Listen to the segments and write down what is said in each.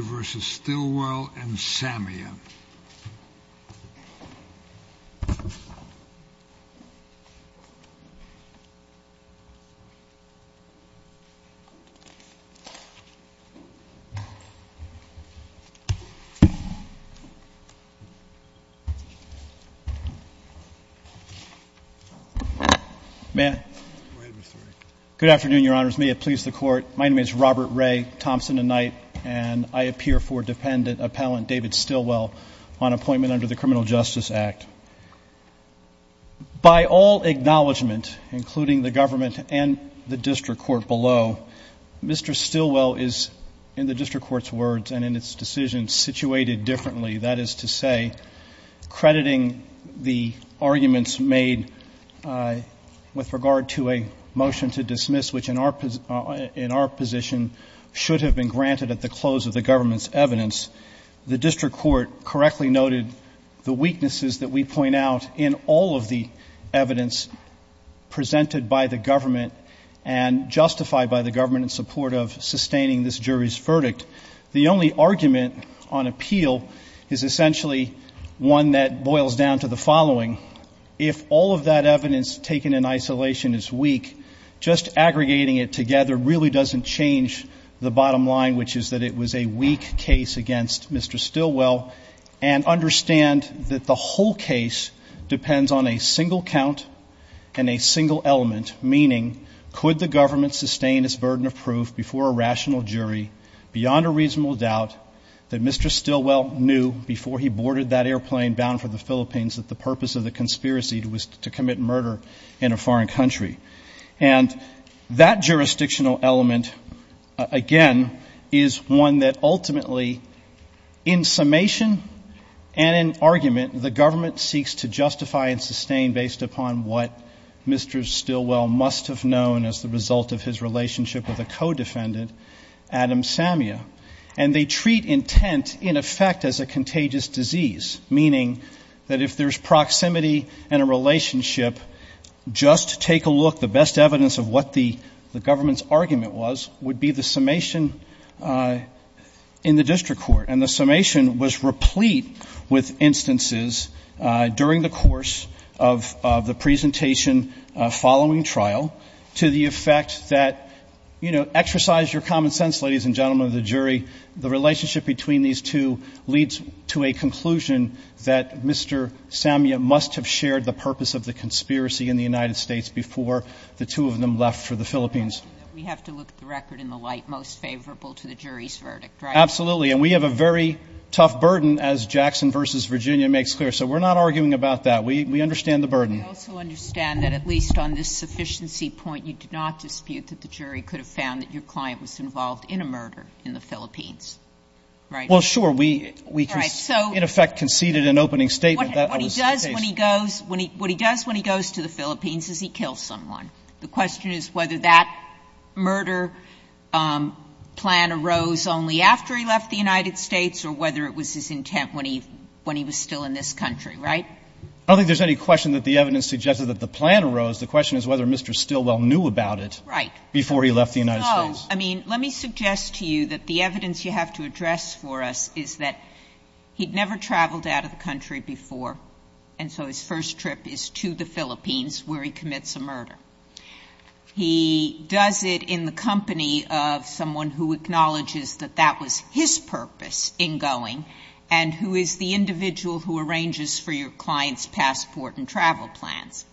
v. Stilwell v. Samian Good afternoon, Your Honors. May it please the Court. My name is David Stilwell, on appointment under the Criminal Justice Act. By all acknowledgment, including the government and the District Court below, Mr. Stilwell is, in the District Court's words and in its decision, situated differently. That is to say, crediting the arguments made with regard to a motion to dismiss, which in our position should have been granted at the close of the government's evidence, the District Court correctly noted the weaknesses that we point out in all of the evidence presented by the government and justified by the government in support of sustaining this jury's verdict. The only argument on appeal is essentially one that boils down to the following. If all of that evidence taken in isolation is weak, just aggregating it together really doesn't change the bottom line, which is that it was a weak case against Mr. Stilwell. And understand that the whole case depends on a single count and a single element, meaning, could the government sustain its burden of proof before a rational jury beyond a reasonable doubt that Mr. Stilwell knew before he boarded that airplane bound for the Philippines that the purpose of the conspiracy was to commit murder in a foreign country? And that jurisdictional element, again, is one that ultimately, in summation and in argument, the government seeks to justify and sustain based upon what Mr. Stilwell must have known as the result of his relationship with a co-defendant, Adam Samia, and they proximity and a relationship, just take a look, the best evidence of what the government's argument was would be the summation in the district court. And the summation was replete with instances during the course of the presentation following trial to the effect that, you know, exercise your common sense, ladies and gentlemen of the jury, the relationship between these two leads to a conclusion that Mr. Samia must have shared the purpose of the conspiracy in the United States before the two of them left for the Philippines. We have to look at the record in the light most favorable to the jury's verdict, right? Absolutely. And we have a very tough burden, as Jackson v. Virginia makes clear. So we're not arguing about that. We understand the burden. We also understand that, at least on this sufficiency point, you did not dispute that the jury could have found that your client was involved in a murder in the Philippines, right? Well, sure. We, in effect, conceded an opening statement that was the case. What he does when he goes to the Philippines is he kills someone. The question is whether that murder plan arose only after he left the United States or whether it was his intent when he was still in this country, right? I don't think there's any question that the evidence suggests that the plan arose. The question is whether Mr. Stilwell knew about it before he left the United States. Well, I mean, let me suggest to you that the evidence you have to address for us is that he'd never traveled out of the country before, and so his first trip is to the Philippines, where he commits a murder. He does it in the company of someone who acknowledges that that was his purpose in going and who is the individual who arranges for your client's passport and travel plans.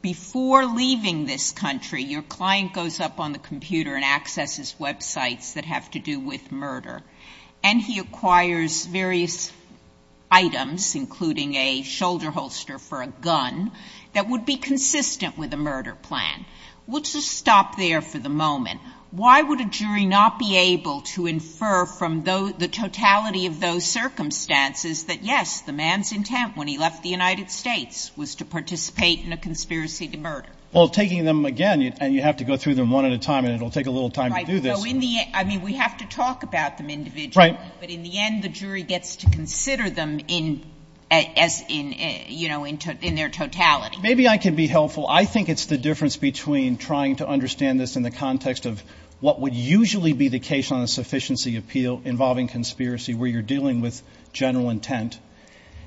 Before leaving this country, your client goes up on the computer and accesses websites that have to do with murder, and he acquires various items, including a shoulder holster for a gun, that would be consistent with a murder plan. We'll just stop there for the moment. Why would a jury not be able to infer from the totality of those circumstances that, yes, the man's intent when he left the an individual who committed a conspiracy to murder. Well, taking them again, and you have to go through them one at a time, and it'll take a little time to do this. Right. So in the end, I mean, we have to talk about them individually. Right. But in the end, the jury gets to consider them in as in, you know, in their totality. Maybe I can be helpful. I think it's the difference between trying to understand this in the context of what would usually be the case on a sufficiency appeal involving conspiracy, where you're dealing with general intent,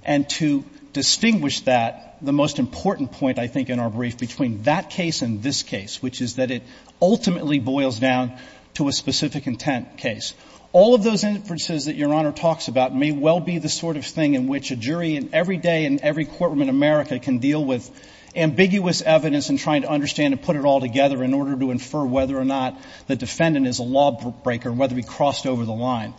and to distinguish that, the most important point, I think, in our brief between that case and this case, which is that it ultimately boils down to a specific intent case. All of those inferences that your Honor talks about may well be the sort of thing in which a jury in every day in every courtroom in America can deal with ambiguous evidence and trying to understand and put it all together in order to infer whether or not the defendant is a lawbreaker and whether he crossed over the line.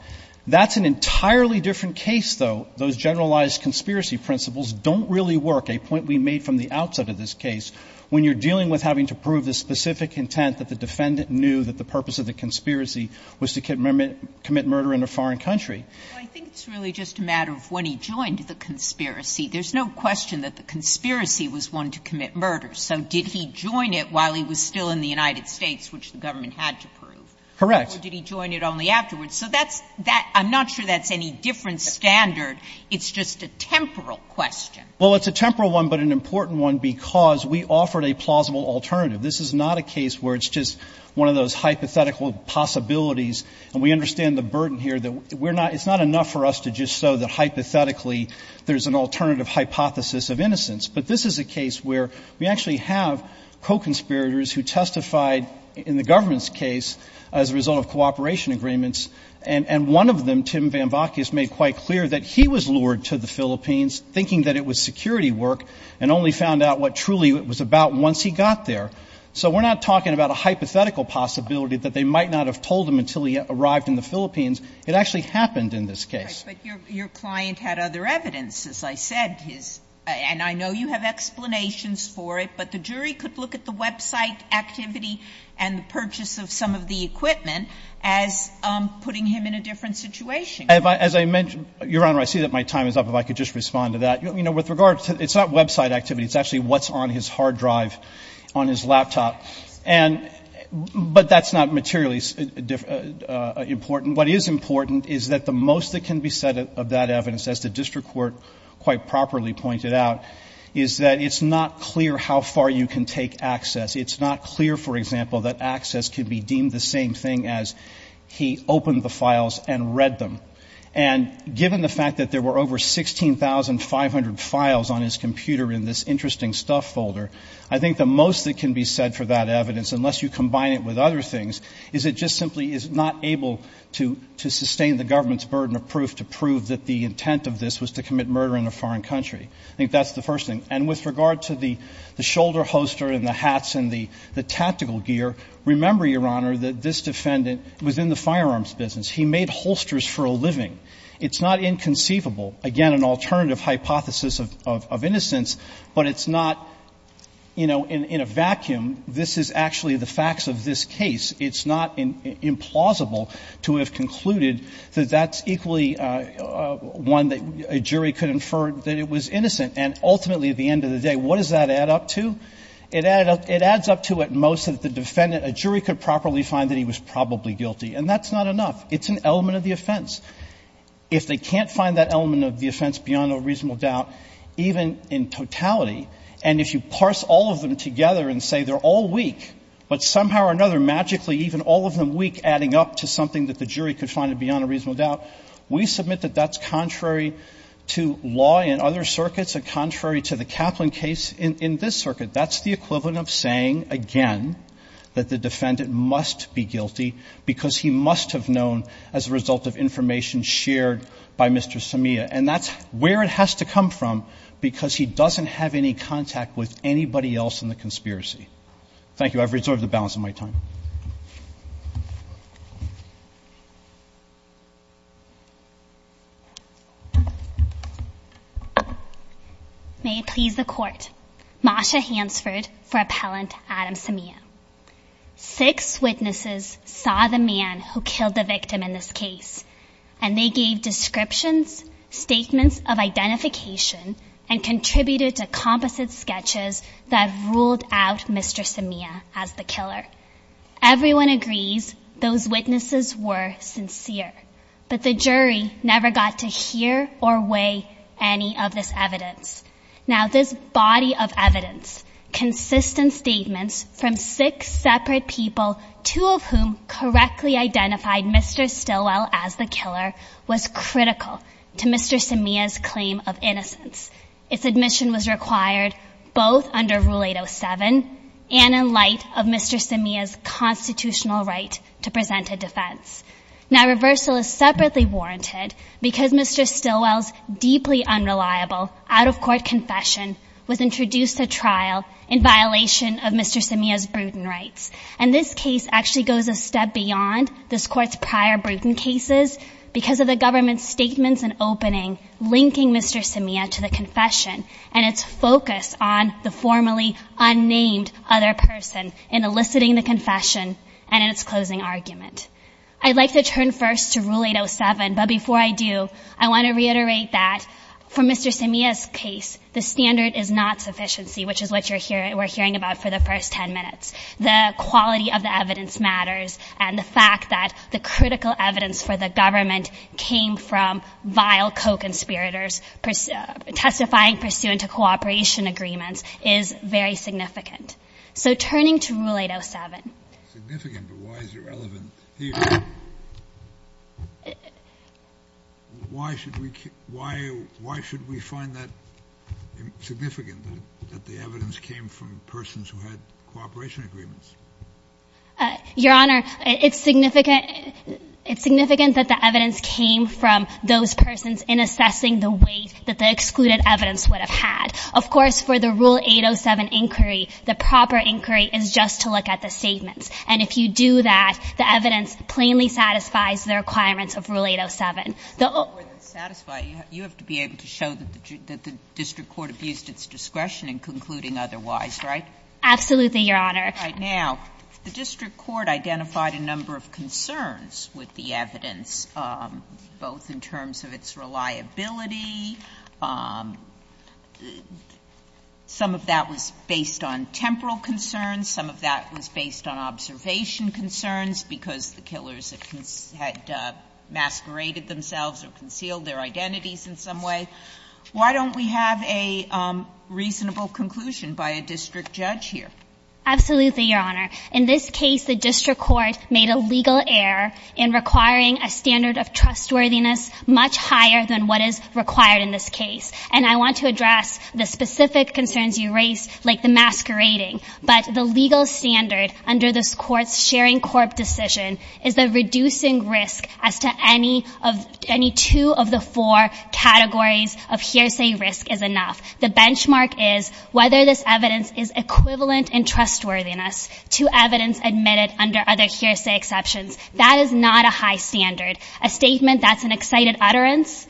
That's an entirely different case, though. Those generalized conspiracy principles don't really work, a point we made from the outset of this case, when you're dealing with having to prove the specific intent that the defendant knew that the purpose of the conspiracy was to commit murder in a foreign country. Well, I think it's really just a matter of when he joined the conspiracy. There's no question that the conspiracy was one to commit murder. So did he join it while he was still in the United States, which the government had to prove? Correct. Or did he join it only afterwards? So that's that — I'm not sure that's any different standard. It's just a temporal question. Well, it's a temporal one, but an important one because we offered a plausible alternative. This is not a case where it's just one of those hypothetical possibilities, and we understand the burden here that we're not — it's not enough for us to just show that hypothetically there's an alternative hypothesis of innocence. But this is a case where we actually have co-conspirators who testified in the government's case as a result of cooperation agreements, and one of them, Tim Van Vakias, made quite clear that he was lured to the Philippines thinking that it was security work and only found out what truly it was about once he got there. So we're not talking about a hypothetical possibility that they might not have told him until he arrived in the Philippines. It actually happened in this case. But your client had other evidence, as I said, his — and I know you have explanations for it, but the jury could look at the website activity and the purchase of some of the equipment as putting him in a different situation. As I mentioned, Your Honor, I see that my time is up. If I could just respond to that. You know, with regard to — it's not website activity. It's actually what's on his hard drive on his laptop. And — but that's not materially important. What is important is that the most that can be said of that evidence, as the district court quite properly pointed out, is that it's not clear how far you can take access. It's not clear, for example, that access could be deemed the same thing as he opened the files and read them. And given the fact that there were over 16,500 files on his computer in this interesting stuff folder, I think the most that can be said for that evidence, unless you combine it with other things, is it just simply is not able to sustain the government's burden of proof to prove that the intent of this was to commit murder in a foreign country. I think that's the first thing. And with regard to the shoulder holster and the hats and the tactical gear, remember, Your Honor, that this defendant was in the firearms business. He made holsters for a living. It's not inconceivable. Again, an alternative hypothesis of innocence, but it's not, you know, in a vacuum. This is actually the facts of this case. It's not implausible to have concluded that that's equally one that a jury could infer that it was innocent. And ultimately, at the end of the day, what does that add up to? It adds up to, at most, that the defendant, a jury, could properly find that he was probably guilty. And that's not enough. It's an element of the offense. If they can't find that element of the offense beyond a reasonable doubt, even in totality, and if you parse all of them together and say they're all weak, but somehow or another, magically, even all of them weak, adding up to something that the jury could find beyond a reasonable doubt, we submit that that's contrary to law in other circuits and contrary to the Kaplan case in this circuit. That's the equivalent of saying, again, that the defendant must be guilty because he must have known as a result of information shared by Mr. Samea. And that's where it has to come from because he doesn't have any contact with anybody else in the conspiracy. Thank you. I've reserved the balance of my time. May it please the court. Masha Hansford for appellant Adam Samea. Six witnesses saw the man who killed the victim in this case. And they gave descriptions, statements of identification and contributed to composite sketches that ruled out Mr. Samea as the killer. Everyone agrees those witnesses were sincere, but the jury never got to hear or weigh any of this evidence. Now, this body of evidence, consistent statements from six separate people, two of whom correctly identified Mr. Stilwell as the killer, was critical to Mr. Samea's claim of innocence. Its admission was required both under Rule 807 and in light of Mr. Samea's constitutional right to present a defense. Now, reversal is separately warranted because Mr. Stilwell's deeply unreliable out-of-court confession was introduced to trial in violation of Mr. Samea's brutal rights. And this case actually goes a step beyond this court's prior brutal cases because of the government's statements and opening linking Mr. Samea to the confession and its focus on the formerly unnamed other person in eliciting the confession and its closing argument. I'd like to turn first to Rule 807, but before I do, I want to reiterate that for Mr. Samea's case, the standard is not sufficiency, which is what we're hearing about for the first 10 minutes. The quality of the evidence matters. And the fact that the critical evidence for the government came from vile co-conspirators testifying pursuant to cooperation agreements is very significant. So turning to Rule 807. Significant, but why is it relevant here? Why should we why why should we find that significant that the evidence came from persons who had cooperation agreements? Your Honor, it's significant. It's significant that the evidence came from those persons in assessing the weight that the excluded evidence would have had. Of course, for the Rule 807 inquiry, the proper inquiry is just to look at the statements. And if you do that, the evidence plainly satisfies the requirements of Rule 807. The more than satisfy, you have to be able to show that the district court abused its discretion in concluding otherwise, right? Absolutely, Your Honor. Now, the district court identified a number of concerns with the evidence, both in terms of its reliability. Some of that was based on temporal concerns, some of that was based on observation concerns because the killers had masqueraded themselves or concealed their identities in some way. Why don't we have a reasonable conclusion by a district judge here? Absolutely, Your Honor. In this case, the district court made a legal error in requiring a standard of trustworthiness much higher than what is required in this case. And I want to address the specific concerns you raised, like the masquerading. But the legal standard under this court's sharing court decision is the reducing risk as to any of any two of the four categories of hearsay risk is enough. The benchmark is whether this evidence is equivalent in trustworthiness to evidence admitted under other hearsay exceptions. That is not a high standard. A statement that's an excited utterance.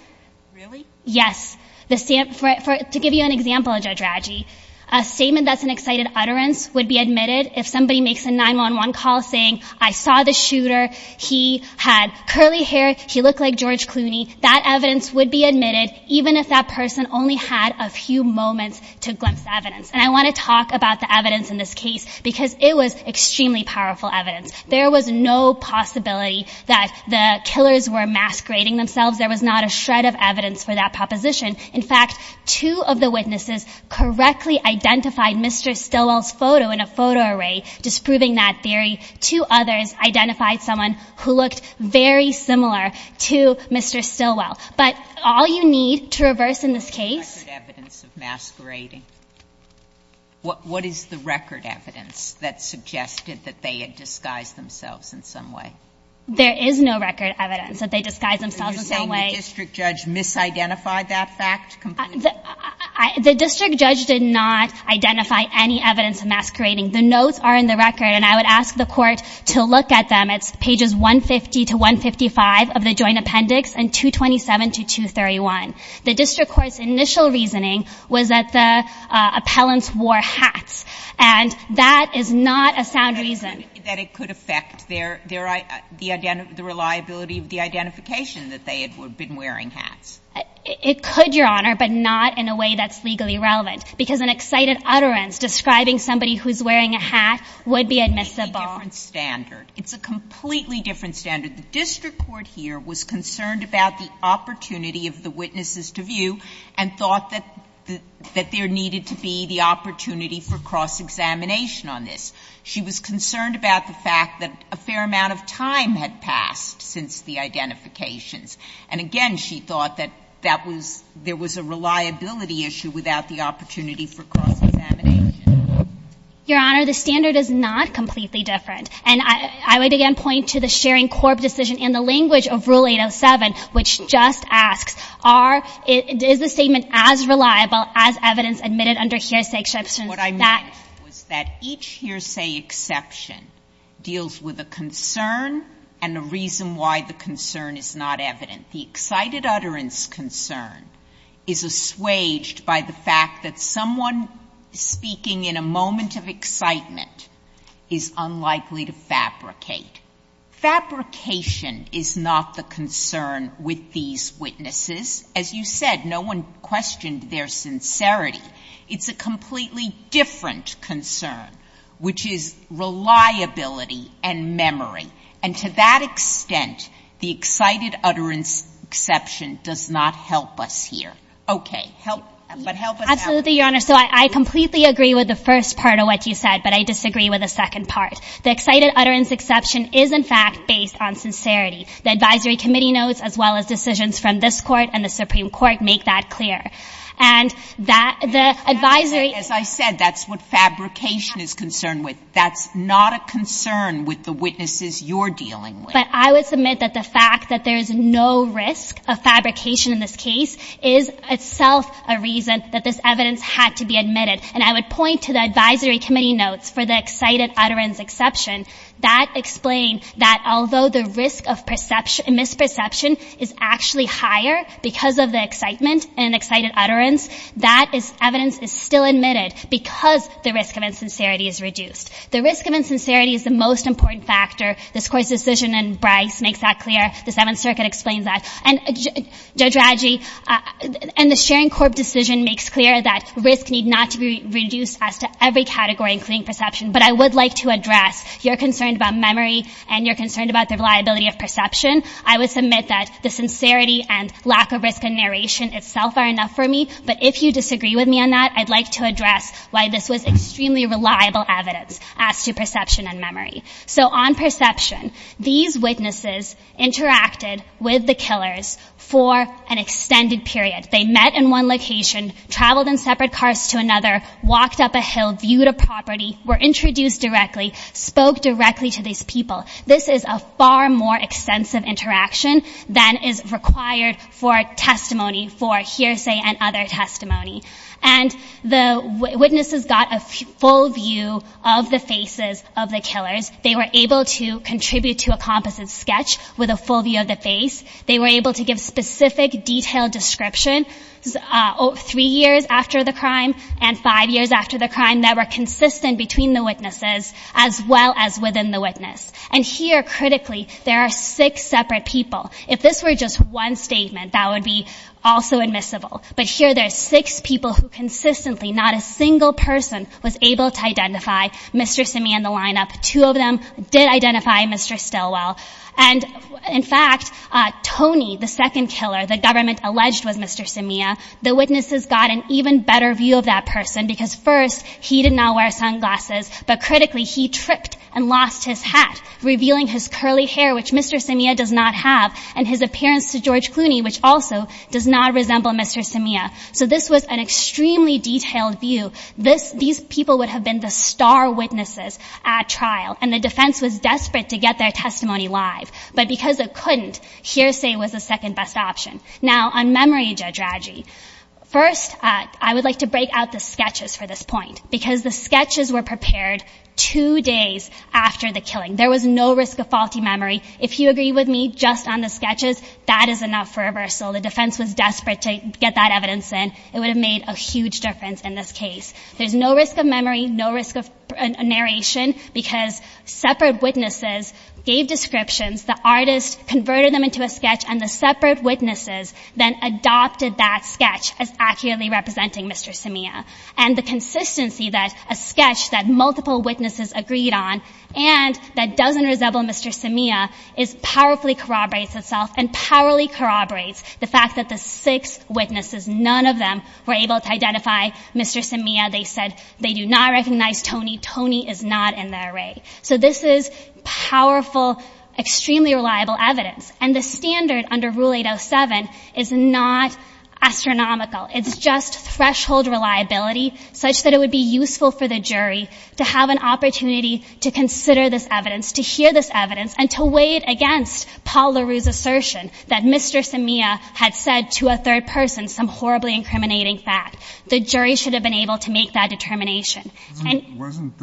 Really? Yes. To give you an example, Judge Raggi, a statement that's an excited utterance would be admitted if somebody makes a 911 call saying, I saw the shooter. He had curly hair. He looked like George Clooney. That evidence would be admitted even if that person only had a few moments to glimpse the evidence. And I want to talk about the evidence in this case because it was extremely powerful evidence. There was no possibility that the killers were masquerading themselves. There was not a shred of evidence for that proposition. In fact, two of the witnesses correctly identified Mr. Stilwell's photo in a photo array, disproving that theory. Two others identified someone who looked very similar to Mr. Stilwell. But all you need to reverse in this case. Record evidence of masquerading. What is the record evidence that suggested that they had disguised themselves in some way? There is no record evidence that they disguised themselves in some way. Are you saying the district judge misidentified that fact? The district judge did not identify any evidence of masquerading. The notes are in the record and I would ask the court to look at them. It's pages 150 to 155 of the joint appendix and 227 to 231. The district court's initial reasoning was that the appellants wore hats. And that is not a sound reason. That it could affect the reliability of the identification that they had been wearing hats. It could, Your Honor, but not in a way that's legally relevant. Because an excited utterance describing somebody who's wearing a hat would be admissible. It's a completely different standard. It's a completely different standard. The district court here was concerned about the opportunity of the witnesses to view and thought that there needed to be the opportunity for cross-examination on this. She was concerned about the fact that a fair amount of time had passed since the identifications. And again, she thought that that was, there was a reliability issue without the opportunity for cross-examination. Your Honor, the standard is not completely different. And I would again point to the sharing corp decision in the language of Rule 807, which just asks, are, is the statement as reliable as evidence admitted under hearsay exception? What I meant was that each hearsay exception deals with a concern and a reason why the concern is not evident. The excited utterance concern is assuaged by the fact that someone speaking in a moment of excitement is unlikely to fabricate. Fabrication is not the concern with these witnesses. As you said, no one questioned their sincerity. It's a completely different concern, which is reliability and memory. And to that extent, the excited utterance exception does not help us here. Okay, help, but help us out. Absolutely, Your Honor. So I completely agree with the first part of what you said, but I disagree with the second part. The excited utterance exception is in fact based on sincerity. The advisory committee notes as well as decisions from this court and the Supreme Court make that clear. And that, the advisory. As I said, that's what fabrication is concerned with. That's not a concern with the witnesses you're dealing with. But I would submit that the fact that there is no risk of fabrication in this case is itself a reason that this evidence had to be admitted. And I would point to the advisory committee notes for the excited utterance exception that explain that although the risk of misperception is actually higher because of the excitement and excited utterance, that is evidence is still admitted because the risk of insincerity is reduced. The risk of insincerity is the most important factor. This court's decision in Bryce makes that clear. The Seventh Circuit explains that. And Judge Radji, and the sharing court decision makes clear that risk need not to be reduced as to every category including perception. But I would like to address your concern about memory and your concern about the reliability of perception. I would submit that the sincerity and lack of risk in narration itself are enough for me. But if you disagree with me on that, I'd like to address why this was extremely reliable evidence. As to perception and memory. So on perception, these witnesses interacted with the killers for an extended period. They met in one location, traveled in separate cars to another, walked up a hill, viewed a property, were introduced directly, spoke directly to these people. This is a far more extensive interaction than is required for testimony, for hearsay and other testimony. And the witnesses got a full view of the faces of the killers. They were able to contribute to a composite sketch with a full view of the face. They were able to give specific detailed descriptions three years after the crime and five years after the crime that were consistent between the witnesses as well as within the witness. And here, critically, there are six separate people. If this were just one statement, that would be also admissible. But here there's six people who consistently, not a single person was able to identify Mr. Simia in the lineup. Two of them did identify Mr. Stilwell. And in fact, Tony, the second killer, the government alleged was Mr. Simia, the witnesses got an even better view of that person. Because first, he did not wear sunglasses. But critically, he tripped and lost his hat, revealing his curly hair, which Mr. Simia does not have, and his appearance to George Clooney, which also does not resemble Mr. Simia. So this was an extremely detailed view. These people would have been the star witnesses at trial. And the defense was desperate to get their testimony live. But because it couldn't, hearsay was the second best option. Now, on memory, Judge Raji, first, I would like to break out the sketches for this point. Because the sketches were prepared two days after the killing. There was no risk of faulty memory. If you agree with me just on the sketches, that is enough for reversal. The defense was desperate to get that evidence in. It would have made a huge difference in this case. There's no risk of memory, no risk of narration. Because separate witnesses gave descriptions, the artist converted them into a sketch, and the separate witnesses then adopted that sketch as accurately representing Mr. Simia. And the consistency that a sketch that multiple witnesses agreed on, and that doesn't resemble Mr. Simia, is powerfully corroborates itself, and powerfully corroborates the fact that the six witnesses, none of them were able to identify Mr. Simia. They said they do not recognize Tony. Tony is not in the array. So this is powerful, extremely reliable evidence. And the standard under Rule 807 is not astronomical. The jury should have been able to consider this evidence, to hear this evidence, and to weigh it against Paul LaRue's assertion that Mr. Simia had said to a third person some horribly incriminating fact. The jury should have been able to make that determination. And- Wasn't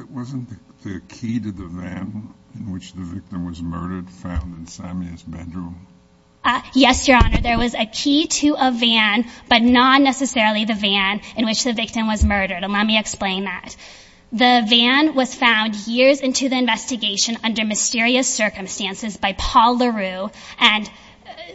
the key to the van in which the victim was murdered found in Simia's bedroom? Yes, Your Honor. There was a key to a van, but not necessarily the van in which the victim was murdered. And let me explain that. The van was found years into the investigation under mysterious circumstances by Paul LaRue. And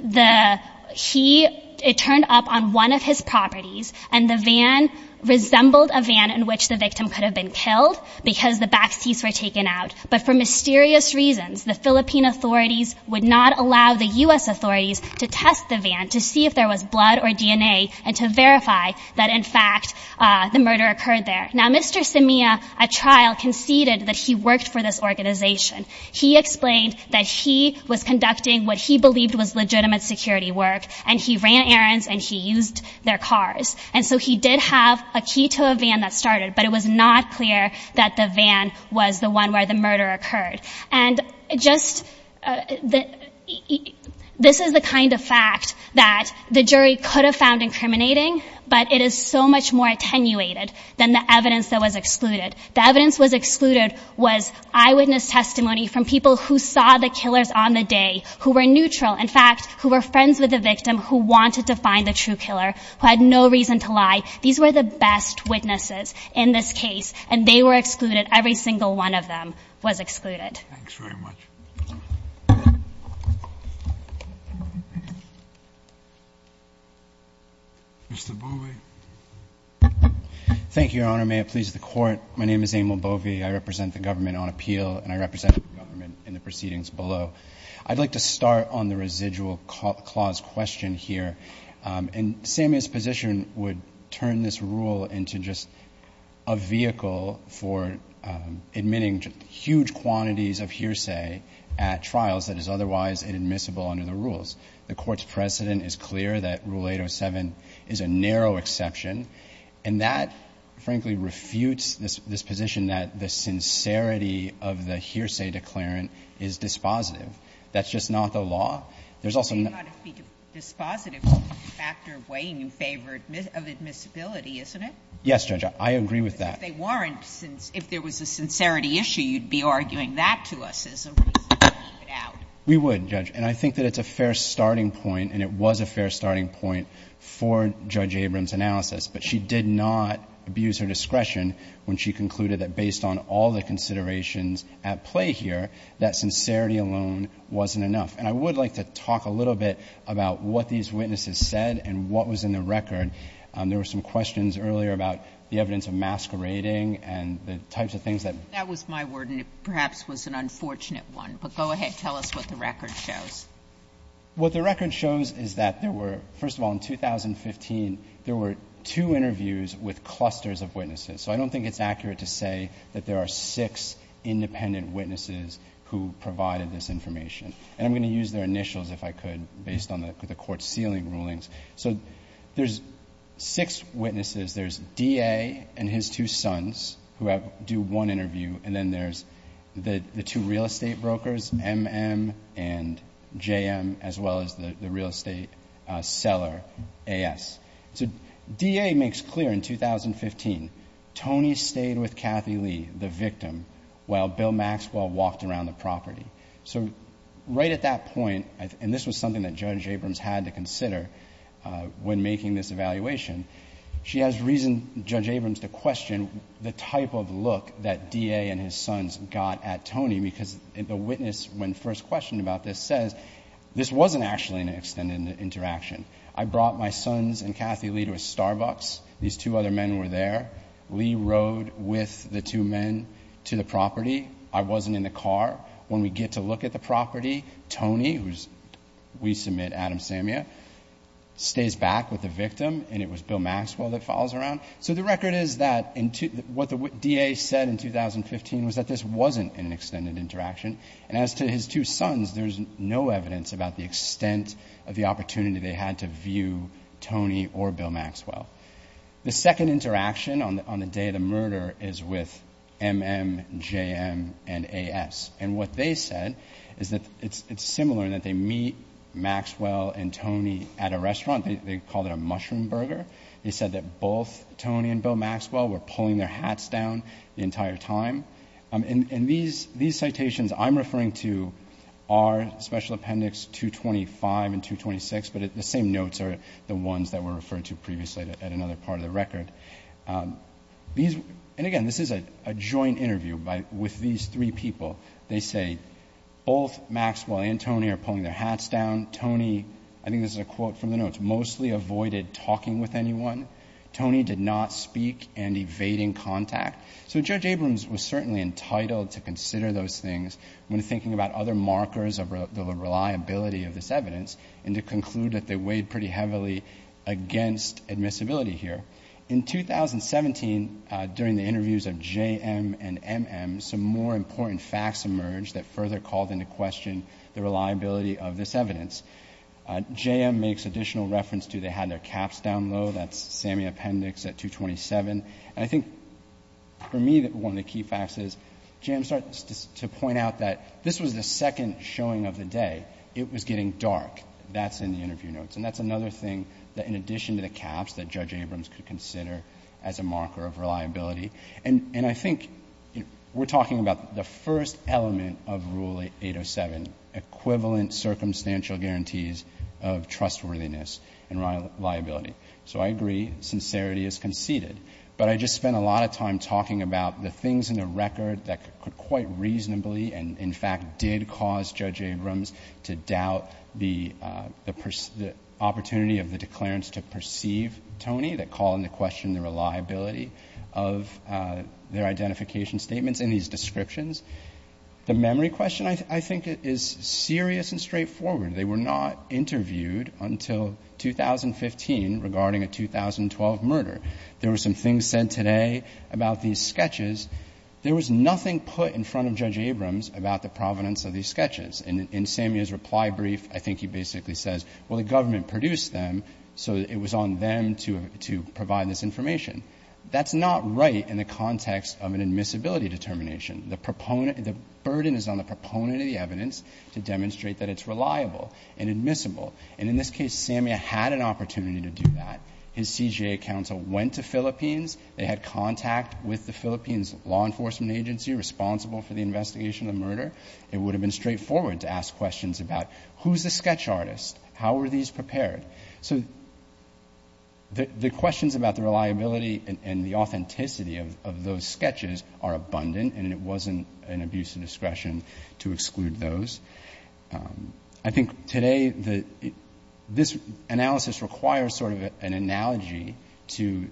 the- he- it turned up on one of his properties, and the van resembled a van in which the victim could have been killed because the backseats were taken out. But for mysterious reasons, the Philippine authorities would not allow the U.S. authorities to test the van to see if there was blood or DNA, and to verify that, in fact, the murder occurred there. Now, Mr. Simia, at trial, conceded that he worked for this organization. He explained that he was conducting what he believed was legitimate security work, and he ran errands, and he used their cars. And so he did have a key to a van that started, but it was not clear that the van was the one where the murder occurred. And just the- this is the kind of fact that the jury could have found incriminating, but it is so much more attenuated than the evidence that was excluded. The evidence that was excluded was eyewitness testimony from people who saw the killers on the day, who were neutral, in fact, who were friends with the victim, who wanted to find the true killer, who had no reason to lie. These were the best witnesses in this case, and they were excluded. Every single one of them was excluded. Thanks very much. Mr. Bovee. Thank you, Your Honor. May it please the Court. My name is Emil Bovee. I represent the government on appeal, and I represent the government in the proceedings below. I'd like to start on the residual clause question here. And Samia's position would turn this rule into just a vehicle for admitting huge quantities of hearsay at trials that is otherwise inadmissible under the rules. The Court's precedent is clear that Rule 807 is a narrow exception, and that, frankly, refutes this position that the sincerity of the hearsay declarant is dispositive. That's just not the law. There's also not- It cannot be dispositive of the factor weighing in favor of admissibility, isn't it? Yes, Judge, I agree with that. If they weren't, if there was a sincerity issue, you'd be arguing that to us as a reason to leave it out. We would, Judge. And I think that it's a fair starting point, and it was a fair starting point for Judge Abrams' analysis. But she did not abuse her discretion when she concluded that based on all the considerations at play here, that sincerity alone wasn't enough. And I would like to talk a little bit about what these witnesses said and what was in the record. There were some questions earlier about the evidence of masquerading and the types of things that- That was my word, and it perhaps was an unfortunate one. But go ahead. Tell us what the record shows. What the record shows is that there were, first of all, in 2015, there were two interviews with clusters of witnesses. So I don't think it's accurate to say that there are six independent witnesses who provided this information. And I'm going to use their initials, if I could, based on the Court's sealing rulings. So there's six witnesses. There's DA and his two sons who do one interview. And then there's the two real estate brokers, M.M. and J.M., as well as the real estate seller, A.S. So DA makes clear in 2015, Tony stayed with Kathy Lee, the victim, while Bill Maxwell walked around the property. So right at that point, and this was something that Judge Abrams had to consider when making this evaluation, she has reason, Judge Abrams, to question the type of look that DA and his sons got at Tony, because the witness, when first questioned about this, says this wasn't actually an extended interaction. I brought my sons and Kathy Lee to a Starbucks. These two other men were there. Lee rode with the two men to the property. I wasn't in the car. When we get to look at the property, Tony, who's, we submit, Adam Samia, stays back with the victim, and it was Bill Maxwell that follows around. So the record is that what the DA said in 2015 was that this wasn't an extended interaction. And as to his two sons, there's no evidence about the extent of the opportunity they had to view Tony or Bill Maxwell. The second interaction on the day of the murder is with M.M., J.M., and A.S. And what they said is that it's similar in that they meet Maxwell and Tony at a restaurant. They call it a mushroom burger. They said that both Tony and Bill Maxwell were pulling their hats down the entire time. And these citations I'm referring to are Special Appendix 225 and 226, but the same notes are the ones that were referred to previously at another part of the record. And again, this is a joint interview with these three people. They say, both Maxwell and Tony are pulling their hats down. Tony, I think this is a quote from the notes, mostly avoided talking with anyone. Tony did not speak and evading contact. So Judge Abrams was certainly entitled to consider those things when thinking about other markers of the reliability of this evidence and to conclude that they weighed pretty heavily against admissibility here. In 2017, during the interviews of J.M. and M.M., some more important facts emerged that further called into question the reliability of this evidence. J.M. makes additional reference to they had their caps down low. That's Sammy Appendix at 227. And I think for me that one of the key facts is J.M. starts to point out that this was the second showing of the day. It was getting dark. That's in the interview notes. And that's another thing that in addition to the caps that Judge Abrams could consider as a marker of reliability. And I think we're talking about the first element of Rule 807, equivalent circumstantial guarantees of trustworthiness and reliability. So I agree. Sincerity is conceded. But I just spent a lot of time talking about the things in the record that could quite reasonably and in fact did cause Judge Abrams to opportunity of the declarance to perceive Tony, that call into question the reliability of their identification statements in these descriptions. The memory question, I think, is serious and straightforward. They were not interviewed until 2015 regarding a 2012 murder. There were some things said today about these sketches. There was nothing put in front of Judge Abrams about the provenance of these sketches. And in Samia's reply brief, I think he basically says, well, the government produced them, so it was on them to provide this information. That's not right in the context of an admissibility determination. The burden is on the proponent of the evidence to demonstrate that it's reliable and admissible. And in this case, Samia had an opportunity to do that. His CJA counsel went to Philippines. They had contact with the Philippines Law Enforcement Agency responsible for the investigation of the murder. It would have been straightforward to ask questions about who's the sketch artist? How are these prepared? So the questions about the reliability and the authenticity of those sketches are abundant, and it wasn't an abuse of discretion to exclude those. I think today this analysis requires sort of an analogy to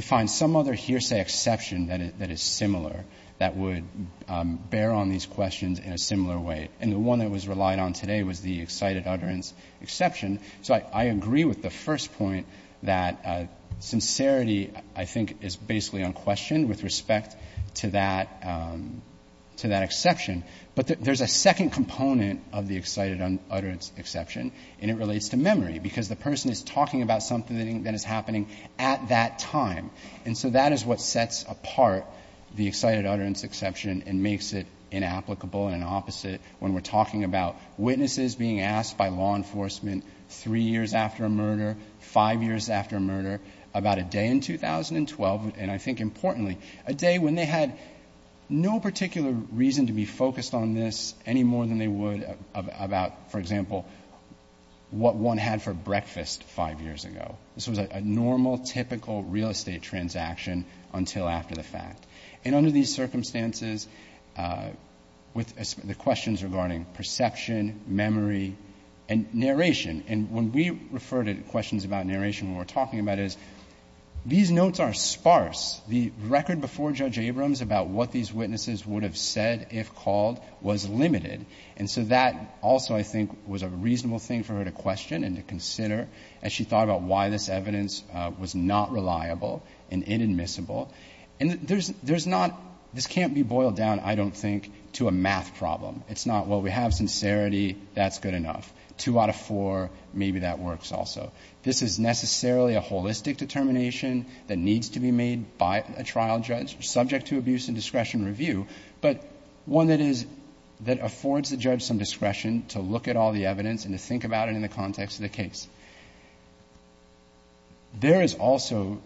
find some other hearsay exception that is similar that would bear on these questions in a similar way, and the one that was relied on today was the excited utterance exception. So I agree with the first point that sincerity, I think, is basically unquestioned with respect to that exception. But there's a second component of the excited utterance exception, and it relates to memory, because the person is talking about something that is happening at that time. And so that is what sets apart the excited utterance exception and makes it inapplicable and opposite when we're talking about witnesses being asked by law enforcement three years after a murder, five years after a murder, about a day in 2012, and I think importantly, a day when they had no particular reason to be focused on this any more than they would about, for example, what one had for breakfast five years ago. This was a normal, typical real estate transaction until after the fact. And under these circumstances, with the questions regarding perception, memory, and narration, and when we refer to questions about narration, what we're talking about is these notes are sparse. The record before Judge Abrams about what these witnesses would have said, if called, was limited, and so that also, I think, was a reasonable thing for her to question and to consider as she thought about why this evidence was not reliable and inadmissible, and there's not, this can't be boiled down, I don't think, to a math problem. It's not, well, we have sincerity, that's good enough. Two out of four, maybe that works also. This is necessarily a holistic determination that needs to be made by a trial judge, subject to abuse and discretion review, but one that is, that affords the judge some discretion to look at all the evidence and to think about it in the context of the case. There is also,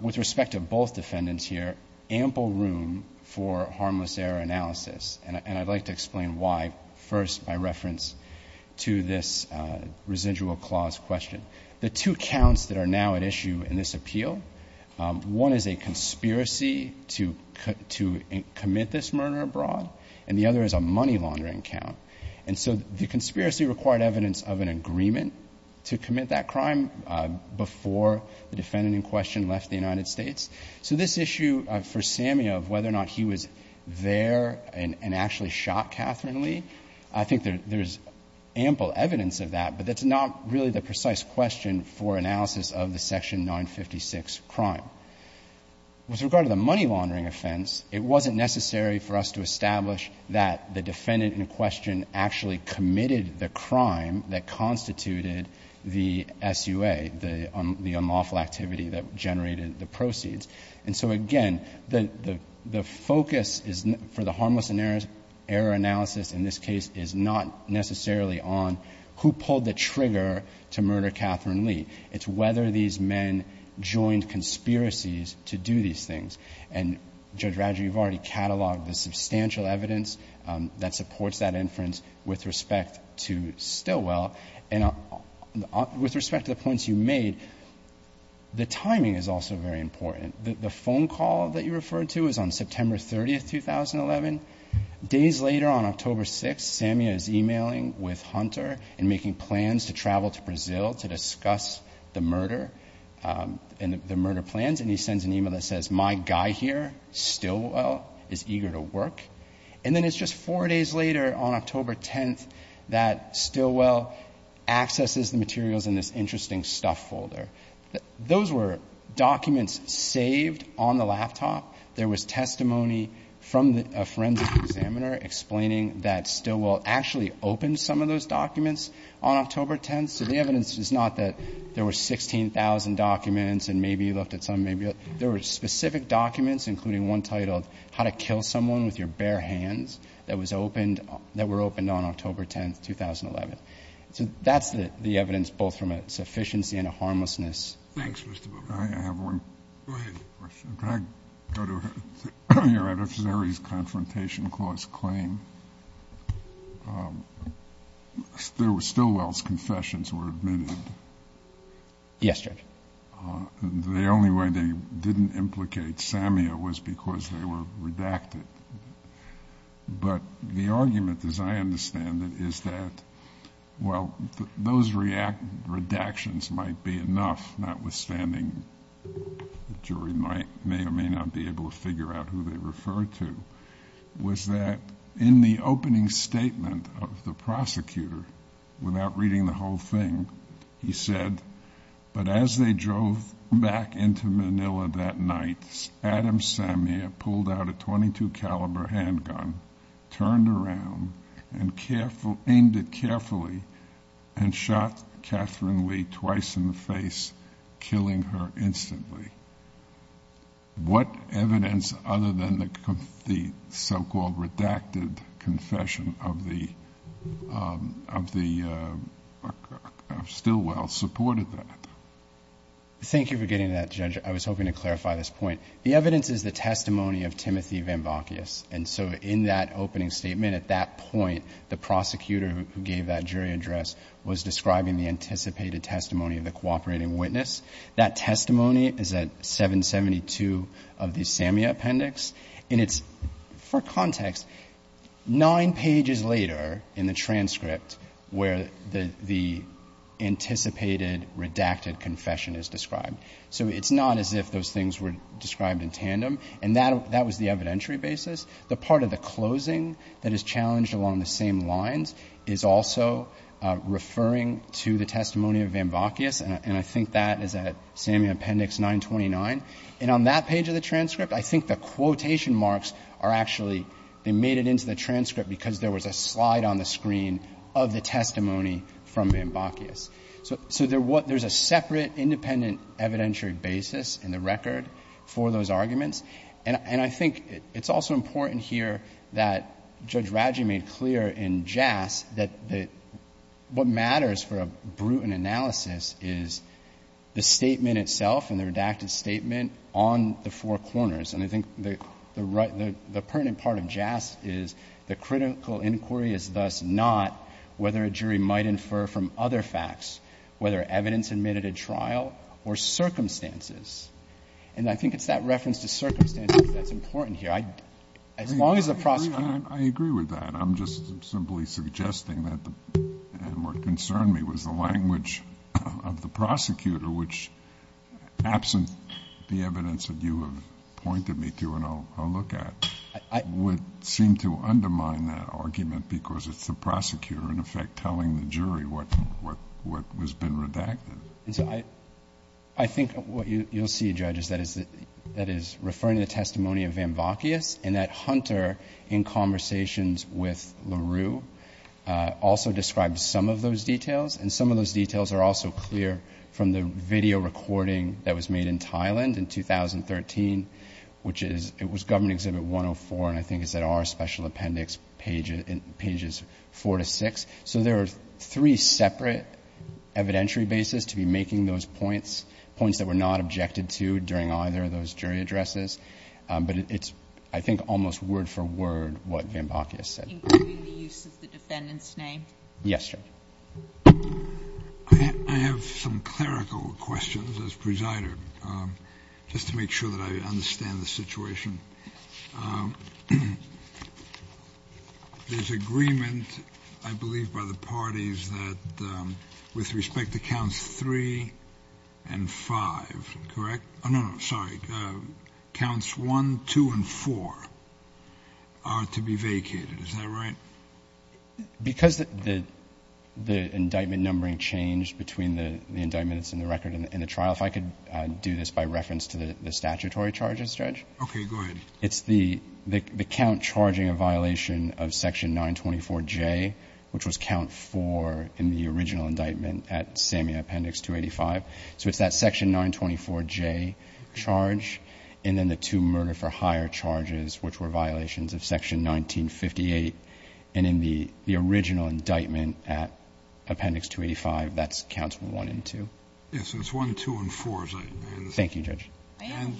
with respect to both defendants here, ample room for harmless error analysis, and I'd like to explain why, first, by reference to this residual clause question. The two counts that are now at issue in this appeal, one is a conspiracy to commit this murder abroad, and the other is a money laundering count, and so the conspiracy required evidence of an agreement to commit that crime. Before the defendant in question left the United States. So this issue for Samia of whether or not he was there and actually shot Catherine Lee, I think there's ample evidence of that, but that's not really the precise question for analysis of the Section 956 crime. Now, with regard to the money laundering offense, it wasn't necessary for us to establish that the defendant in question actually committed the crime that constituted the SUA, the unlawful activity that generated the proceeds, and so, again, the focus for the harmless error analysis in this case is not necessarily on who pulled the trigger to murder Catherine Lee. It's whether these men joined conspiracies to do these things, and Judge Roger, you've already cataloged the substantial evidence that supports that inference with respect to Stilwell, and with respect to the points you made, the timing is also very important. The phone call that you referred to is on September 30th, 2011. Days later, on October 6th, Samia is emailing with Hunter and making plans to travel to Brazil to discuss the murder and the murder plans, and he sends an email that says, my guy here, Stilwell, is eager to work, and then it's just four days later on October 10th that Stilwell accesses the materials in this interesting stuff folder. Those were documents saved on the laptop. There was testimony from a forensic examiner explaining that Stilwell actually opened some of those documents on October 10th, so the evidence is not that there were 16,000 documents and maybe he looked at some, maybe he looked at some. There were specific documents, including one titled, how to kill someone with your bare hands, that were opened on October 10th, 2011. So that's the evidence, both from a sufficiency and a harmlessness. Thanks, Mr. Bober. I have one. Go ahead. Can I go to your other theory's confrontation clause claim? Stilwell's confessions were admitted. Yes, Judge. The only way they didn't implicate Samia was because they were redacted. But the argument, as I understand it, is that while those redactions might be enough, notwithstanding the jury may or may not be able to figure out who they refer to, was that in the opening statement of the prosecutor, without reading the whole thing, he said, But as they drove back into Manila that night, Adam Samia pulled out a .22 caliber handgun, turned around, and aimed it carefully, and shot Catherine Lee twice in the face, killing her instantly. What evidence, other than the so-called redacted confession of Stilwell, supported that? Thank you for getting to that, Judge. I was hoping to clarify this point. The evidence is the testimony of Timothy Van Bokius. And so in that opening statement, at that point, the prosecutor who gave that jury address was describing the anticipated testimony of the cooperating witness. That testimony is at 772 of the Samia appendix. And it's, for context, nine pages later in the transcript where the anticipated redacted confession is described. So it's not as if those things were described in tandem. And that was the evidentiary basis. The part of the closing that is challenged along the same lines is also referring to the testimony of Van Bokius. And I think that is at Samia appendix 929. And on that page of the transcript, I think the quotation marks are actually they made it into the transcript because there was a slide on the screen of the testimony from Van Bokius. So there's a separate, independent evidentiary basis in the record for those arguments. And I think it's also important here that Judge Radji made clear in JAS that what matters for a brutal analysis is the statement itself and the redacted statement on the four corners. And I think the pertinent part of JAS is the critical inquiry is thus not whether a jury might infer from other facts, whether evidence admitted at trial, or circumstances. And I think it's that reference to circumstances that's important here. As long as the prosecutor — I agree with that. I'm just simply suggesting that what concerned me was the language of the prosecutor, which absent the evidence that you have pointed me to and I'll look at, would seem to undermine that argument because it's the prosecutor in effect telling the jury what has been redacted. And so I think what you'll see, Judge, is that is referring to the testimony of Van Bokius and that Hunter, in conversations with LaRue, also described some of those details. And some of those details are also clear from the video recording that was made in Thailand in 2013, which is — it was Government Exhibit 104, and I think it's at our special appendix pages 4 to 6. So there are three separate evidentiary bases to be making those points, points that were not objected to during either of those jury addresses. But it's, I think, almost word for word what Van Bokius said. Including the use of the defendant's name? Yes, Judge. I have some clerical questions, as presided, just to make sure that I understand the situation. There's agreement, I believe, by the parties that with respect to counts 3 and 5, correct? Oh, no, no, sorry. Counts 1, 2, and 4 are to be vacated. Is that right? Because the indictment numbering changed between the indictments in the record and the trial, if I could do this by reference to the statutory charges, Judge. Okay, go ahead. It's the count charging a violation of Section 924J, which was count 4 in the original indictment at SAME Appendix 285. So it's that Section 924J charge, and then the two murder-for-hire charges, which were violations of Section 1958. And in the original indictment at Appendix 285, that's counts 1 and 2. Yes, so it's 1, 2, and 4. Thank you, Judge. I am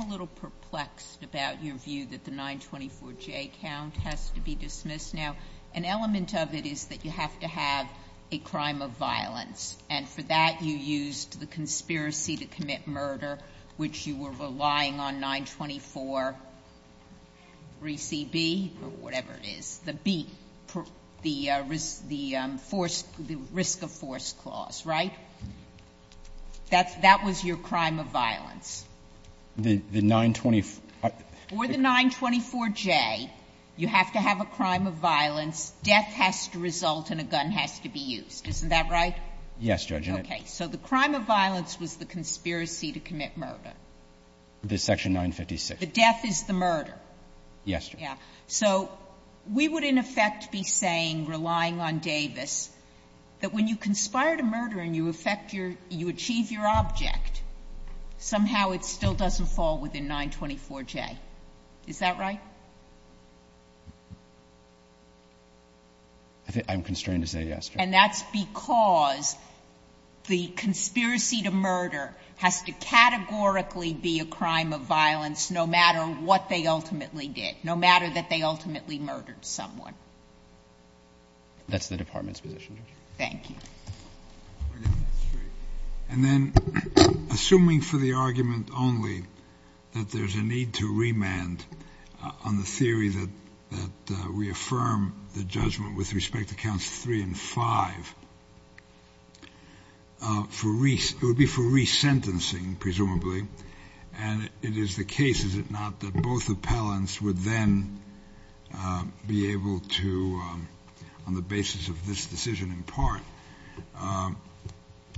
a little perplexed about your view that the 924J count has to be dismissed. Now, an element of it is that you have to have a crime of violence, and for that you used the conspiracy to commit murder, which you were relying on 9243CB, or whatever it is, the B, the risk of force clause, right? That was your crime of violence. The 924. For the 924J, you have to have a crime of violence. Death has to result and a gun has to be used. Isn't that right? Yes, Judge. Okay. So the crime of violence was the conspiracy to commit murder. The Section 956. The death is the murder. Yes, Judge. Yeah. So we would, in effect, be saying, relying on Davis, that when you conspire to murder and you affect your ‑‑ you achieve your object, somehow it still doesn't fall within 924J. Is that right? I'm constrained to say yes, Judge. And that's because the conspiracy to murder has to categorically be a crime of violence no matter what they ultimately did, no matter that they ultimately murdered someone. That's the Department's position, Judge. Thank you. And then, assuming for the argument only that there's a need to remand on the theory that we affirm the judgment with respect to counts 3 and 5 for ‑‑ it would be for both appellants would then be able to, on the basis of this decision in part,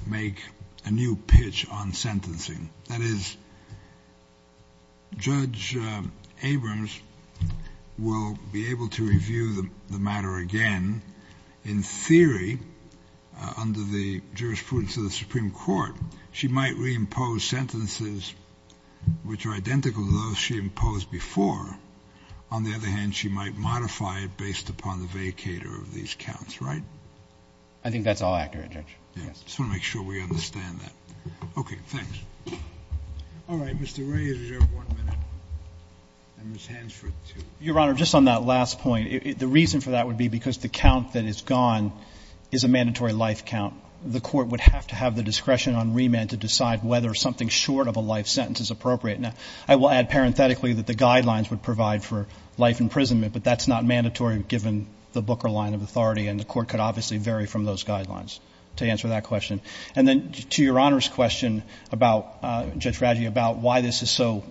make a new pitch on sentencing. That is, Judge Abrams will be able to review the matter again. In theory, under the jurisprudence of the Supreme Court, she might reimpose sentences which are identical to those she imposed before. On the other hand, she might modify it based upon the vacator of these counts, right? I think that's all accurate, Judge. Yes. I just want to make sure we understand that. Okay. Thanks. All right. Mr. Ray, you have one minute. And Ms. Hansford, two. Your Honor, just on that last point, the reason for that would be because the count that is gone is a mandatory life count. The court would have to have the discretion on remand to decide whether something short of a life sentence is appropriate. Now, I will add parenthetically that the guidelines would provide for life imprisonment, but that's not mandatory given the Booker line of authority, and the court could obviously vary from those guidelines, to answer that question. And then to Your Honor's question about ‑‑ Judge Raggi, about why this is so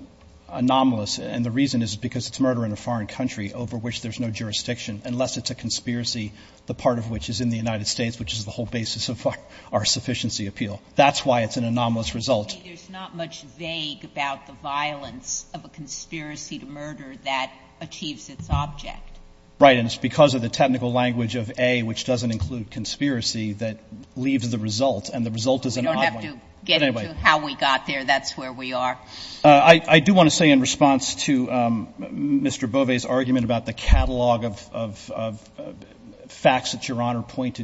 anomalous, and the reason is because it's murder in a foreign country over which there's no jurisdiction, unless it's a conspiracy, the part of which is in the United States, which is the whole basis of our sufficiency appeal. That's why it's an anomalous result. There's not much vague about the violence of a conspiracy to murder that achieves its object. Right. And it's because of the technical language of A, which doesn't include conspiracy, that leaves the result, and the result is an odd one. We don't have to get into how we got there. That's where we are. I do want to say in response to Mr. Bove's argument about the catalog of facts that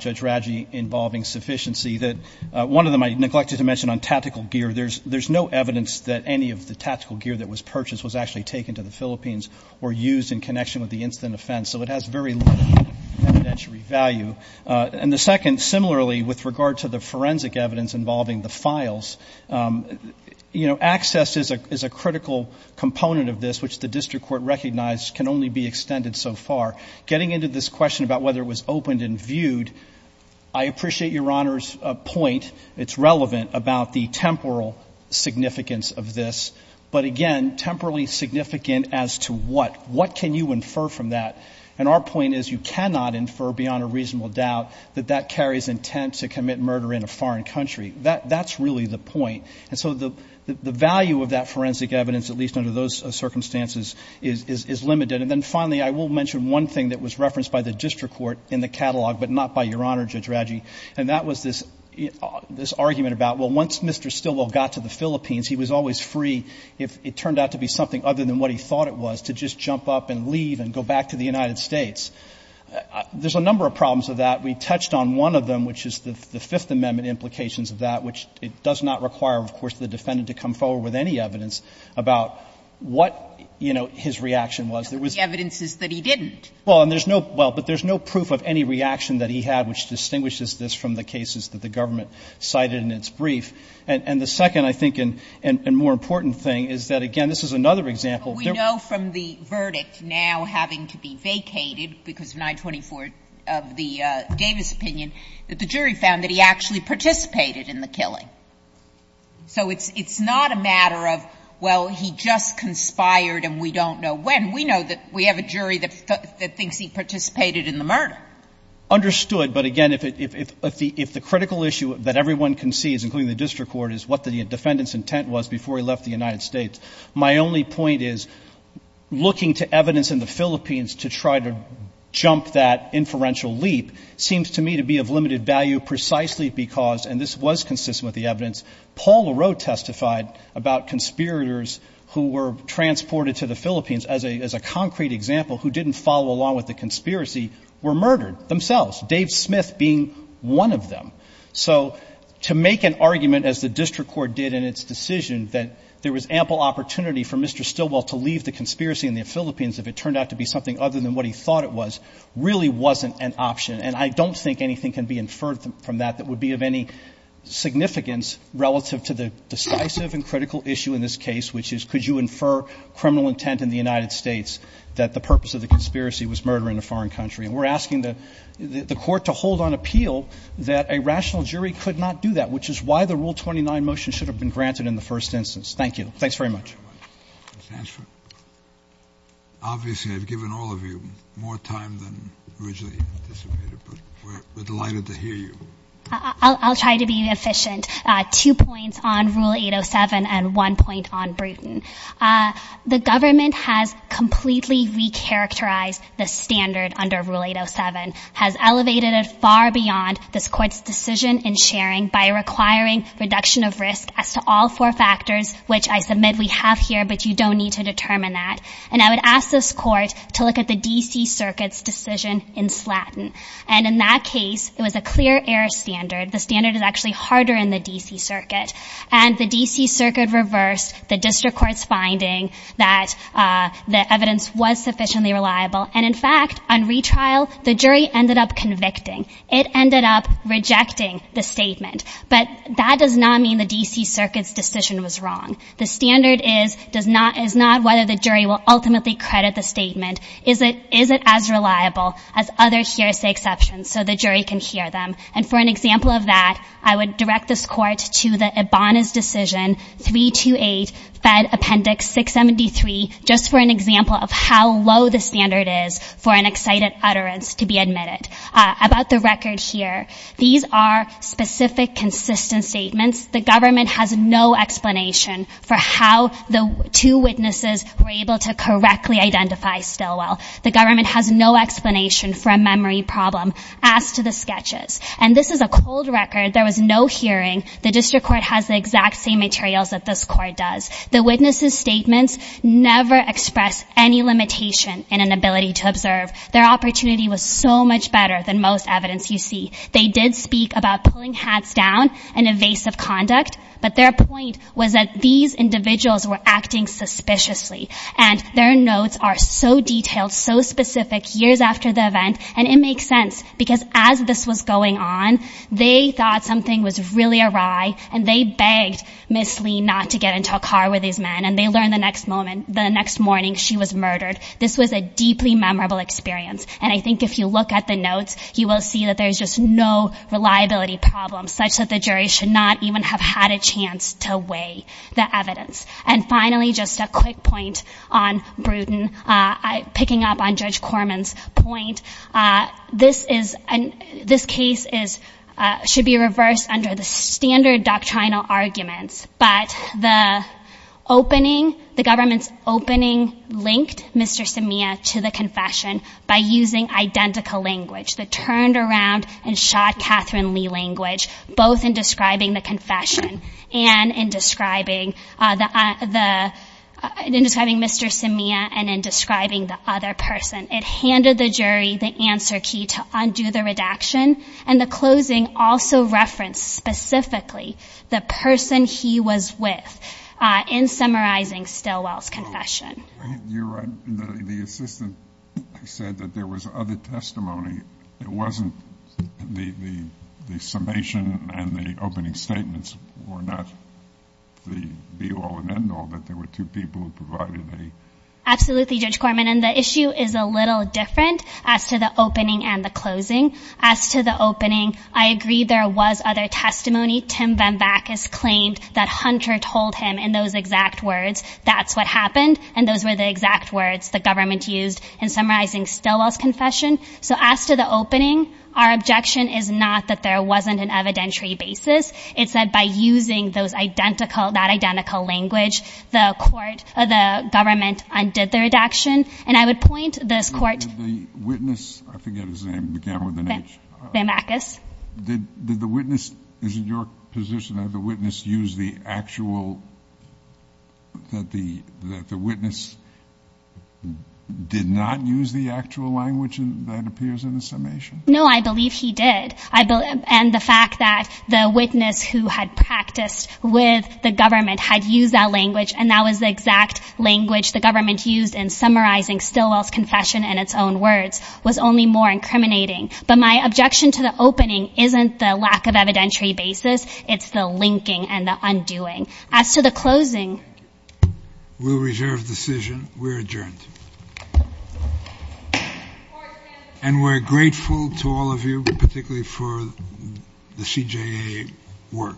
Judge Raggi, involving sufficiency, that one of them I neglected to mention on tactical gear, there's no evidence that any of the tactical gear that was purchased was actually taken to the Philippines or used in connection with the instant offense. So it has very little evidentiary value. And the second, similarly, with regard to the forensic evidence involving the files, you know, access is a critical component of this, which the district court recognized can only be extended so far. Getting into this question about whether it was opened and viewed, I appreciate Your Honor's point. It's relevant about the temporal significance of this. But again, temporally significant as to what. What can you infer from that? And our point is you cannot infer beyond a reasonable doubt that that carries intent to commit murder in a foreign country. That's really the point. And so the value of that forensic evidence, at least under those circumstances, is limited. And then finally, I will mention one thing that was referenced by the district court in the catalog, but not by Your Honor, Judge Raggi, and that was this argument about, well, once Mr. Stilwell got to the Philippines, he was always free, if it turned out to be something other than what he thought it was, to just jump up and leave and go back to the United States. There's a number of problems with that. We touched on one of them, which is the Fifth Amendment implications of that, which it does not require, of course, the defendant to come forward with any evidence about what, you know, his reaction was. There was no proof of any reaction that he had, which distinguishes this from the cases that the government cited in its brief. And the second, I think, and more important thing is that, again, this is another There were no cases that the government cited in its brief. Sotomayor, but we know from the verdict now having to be vacated because of 924 of the Davis opinion, that the jury found that he actually participated in the killing. So it's not a matter of, well, he just conspired and we don't know when. We know that we have a jury that thinks he participated in the murder. Understood. But, again, if the critical issue that everyone can see, including the district court, is what the defendant's intent was before he left the United States, my only point is, looking to evidence in the Philippines to try to jump that inferential leap seems to me to be of limited value precisely because, and this was consistent with the evidence, Paul Lareau testified about conspirators who were transported to the Philippines as a concrete example who didn't follow along with the conspiracy were murdered themselves, Dave Smith being one of them. So to make an argument, as the district court did in its decision, that there was ample opportunity for Mr. Stilwell to leave the conspiracy in the Philippines if it turned out to be something other than what he thought it was, really wasn't an option. And I don't think anything can be inferred from that that would be of any significance relative to the decisive and critical issue in this case, which is could you infer criminal intent in the United States that the purpose of the conspiracy was murder in a foreign country. And we're asking the court to hold on appeal that a rational jury could not do that, which is why the Rule 29 motion should have been granted in the first instance. Thank you. Thanks very much. Obviously, I've given all of you more time than originally anticipated, but we're delighted to hear you. I'll try to be efficient. Two points on Rule 807 and one point on Brewton. The government has completely recharacterized the standard under Rule 807, has elevated it far beyond this court's decision in sharing by requiring reduction of risk as to all four factors, which I submit we have here, but you don't need to determine that. And I would ask this court to look at the D.C. Circuit's decision in Slatton. And in that case, it was a clear error standard. The standard is actually harder in the D.C. Circuit. And the D.C. Circuit reversed the district court's finding that the evidence was sufficiently reliable. And, in fact, on retrial, the jury ended up convicting. It ended up rejecting the statement. But that does not mean the D.C. Circuit's decision was wrong. The standard is not whether the jury will ultimately credit the statement. Is it as reliable as other hearsay exceptions so the jury can hear them? And for an example of that, I would direct this court to the Ibanez decision, 328, Fed Appendix 673, just for an example of how low the standard is for an excited utterance to be admitted. About the record here, these are specific consistent statements. The government has no explanation for how the two witnesses were able to correctly identify Stilwell. The government has no explanation for a memory problem. As to the sketches, and this is a cold record. There was no hearing. The district court has the exact same materials that this court does. The witnesses' statements never express any limitation in an ability to observe. Their opportunity was so much better than most evidence you see. They did speak about pulling hats down and evasive conduct. But their point was that these individuals were acting suspiciously. And their notes are so detailed, so specific, years after the event, and it makes sense because as this was going on, they thought something was really awry, and they begged Ms. Lee not to get into a car with these men, and they learned the next morning she was murdered. This was a deeply memorable experience. And I think if you look at the notes, you will see that there's just no reliability problem, such that the jury should not even have had a chance to weigh the evidence. And finally, just a quick point on Bruton, picking up on Judge Corman's point, this case should be reversed under the standard doctrinal arguments. But the opening, the government's opening, linked Mr. Samia to the confession by using identical language, the turned-around-and-shot-Catherine-Lee language, both in describing the confession and in describing Mr. Samia and in describing the other person. It handed the jury the answer key to undo the redaction, and the closing also referenced specifically the person he was with in summarizing Stilwell's confession. You're right. The assistant said that there was other testimony. It wasn't the summation and the opening statements were not the be-all and end-all, that there were two people who provided the key. Absolutely, Judge Corman. And the issue is a little different as to the opening and the closing. As to the opening, I agree there was other testimony. Tim VanVakis claimed that Hunter told him in those exact words, that's what happened, and those were the exact words the government used in summarizing Stilwell's confession. So as to the opening, our objection is not that there wasn't an evidentiary basis. It's that by using those identical, that identical language, the government undid the redaction. And I would point this Court to the witness. I forget his name. VanVakis. Did the witness, is it your position that the witness used the actual, that the witness did not use the actual language that appears in the summation? No, I believe he did. And the fact that the witness who had practiced with the government had used that language, and that was the exact language the government used in summarizing Stilwell's confession in its own words, was only more incriminating. But my objection to the opening isn't the lack of evidentiary basis. It's the linking and the undoing. As to the closing. We'll reserve the decision. We're adjourned. And we're grateful to all of you, particularly for the CJA work. Thank you.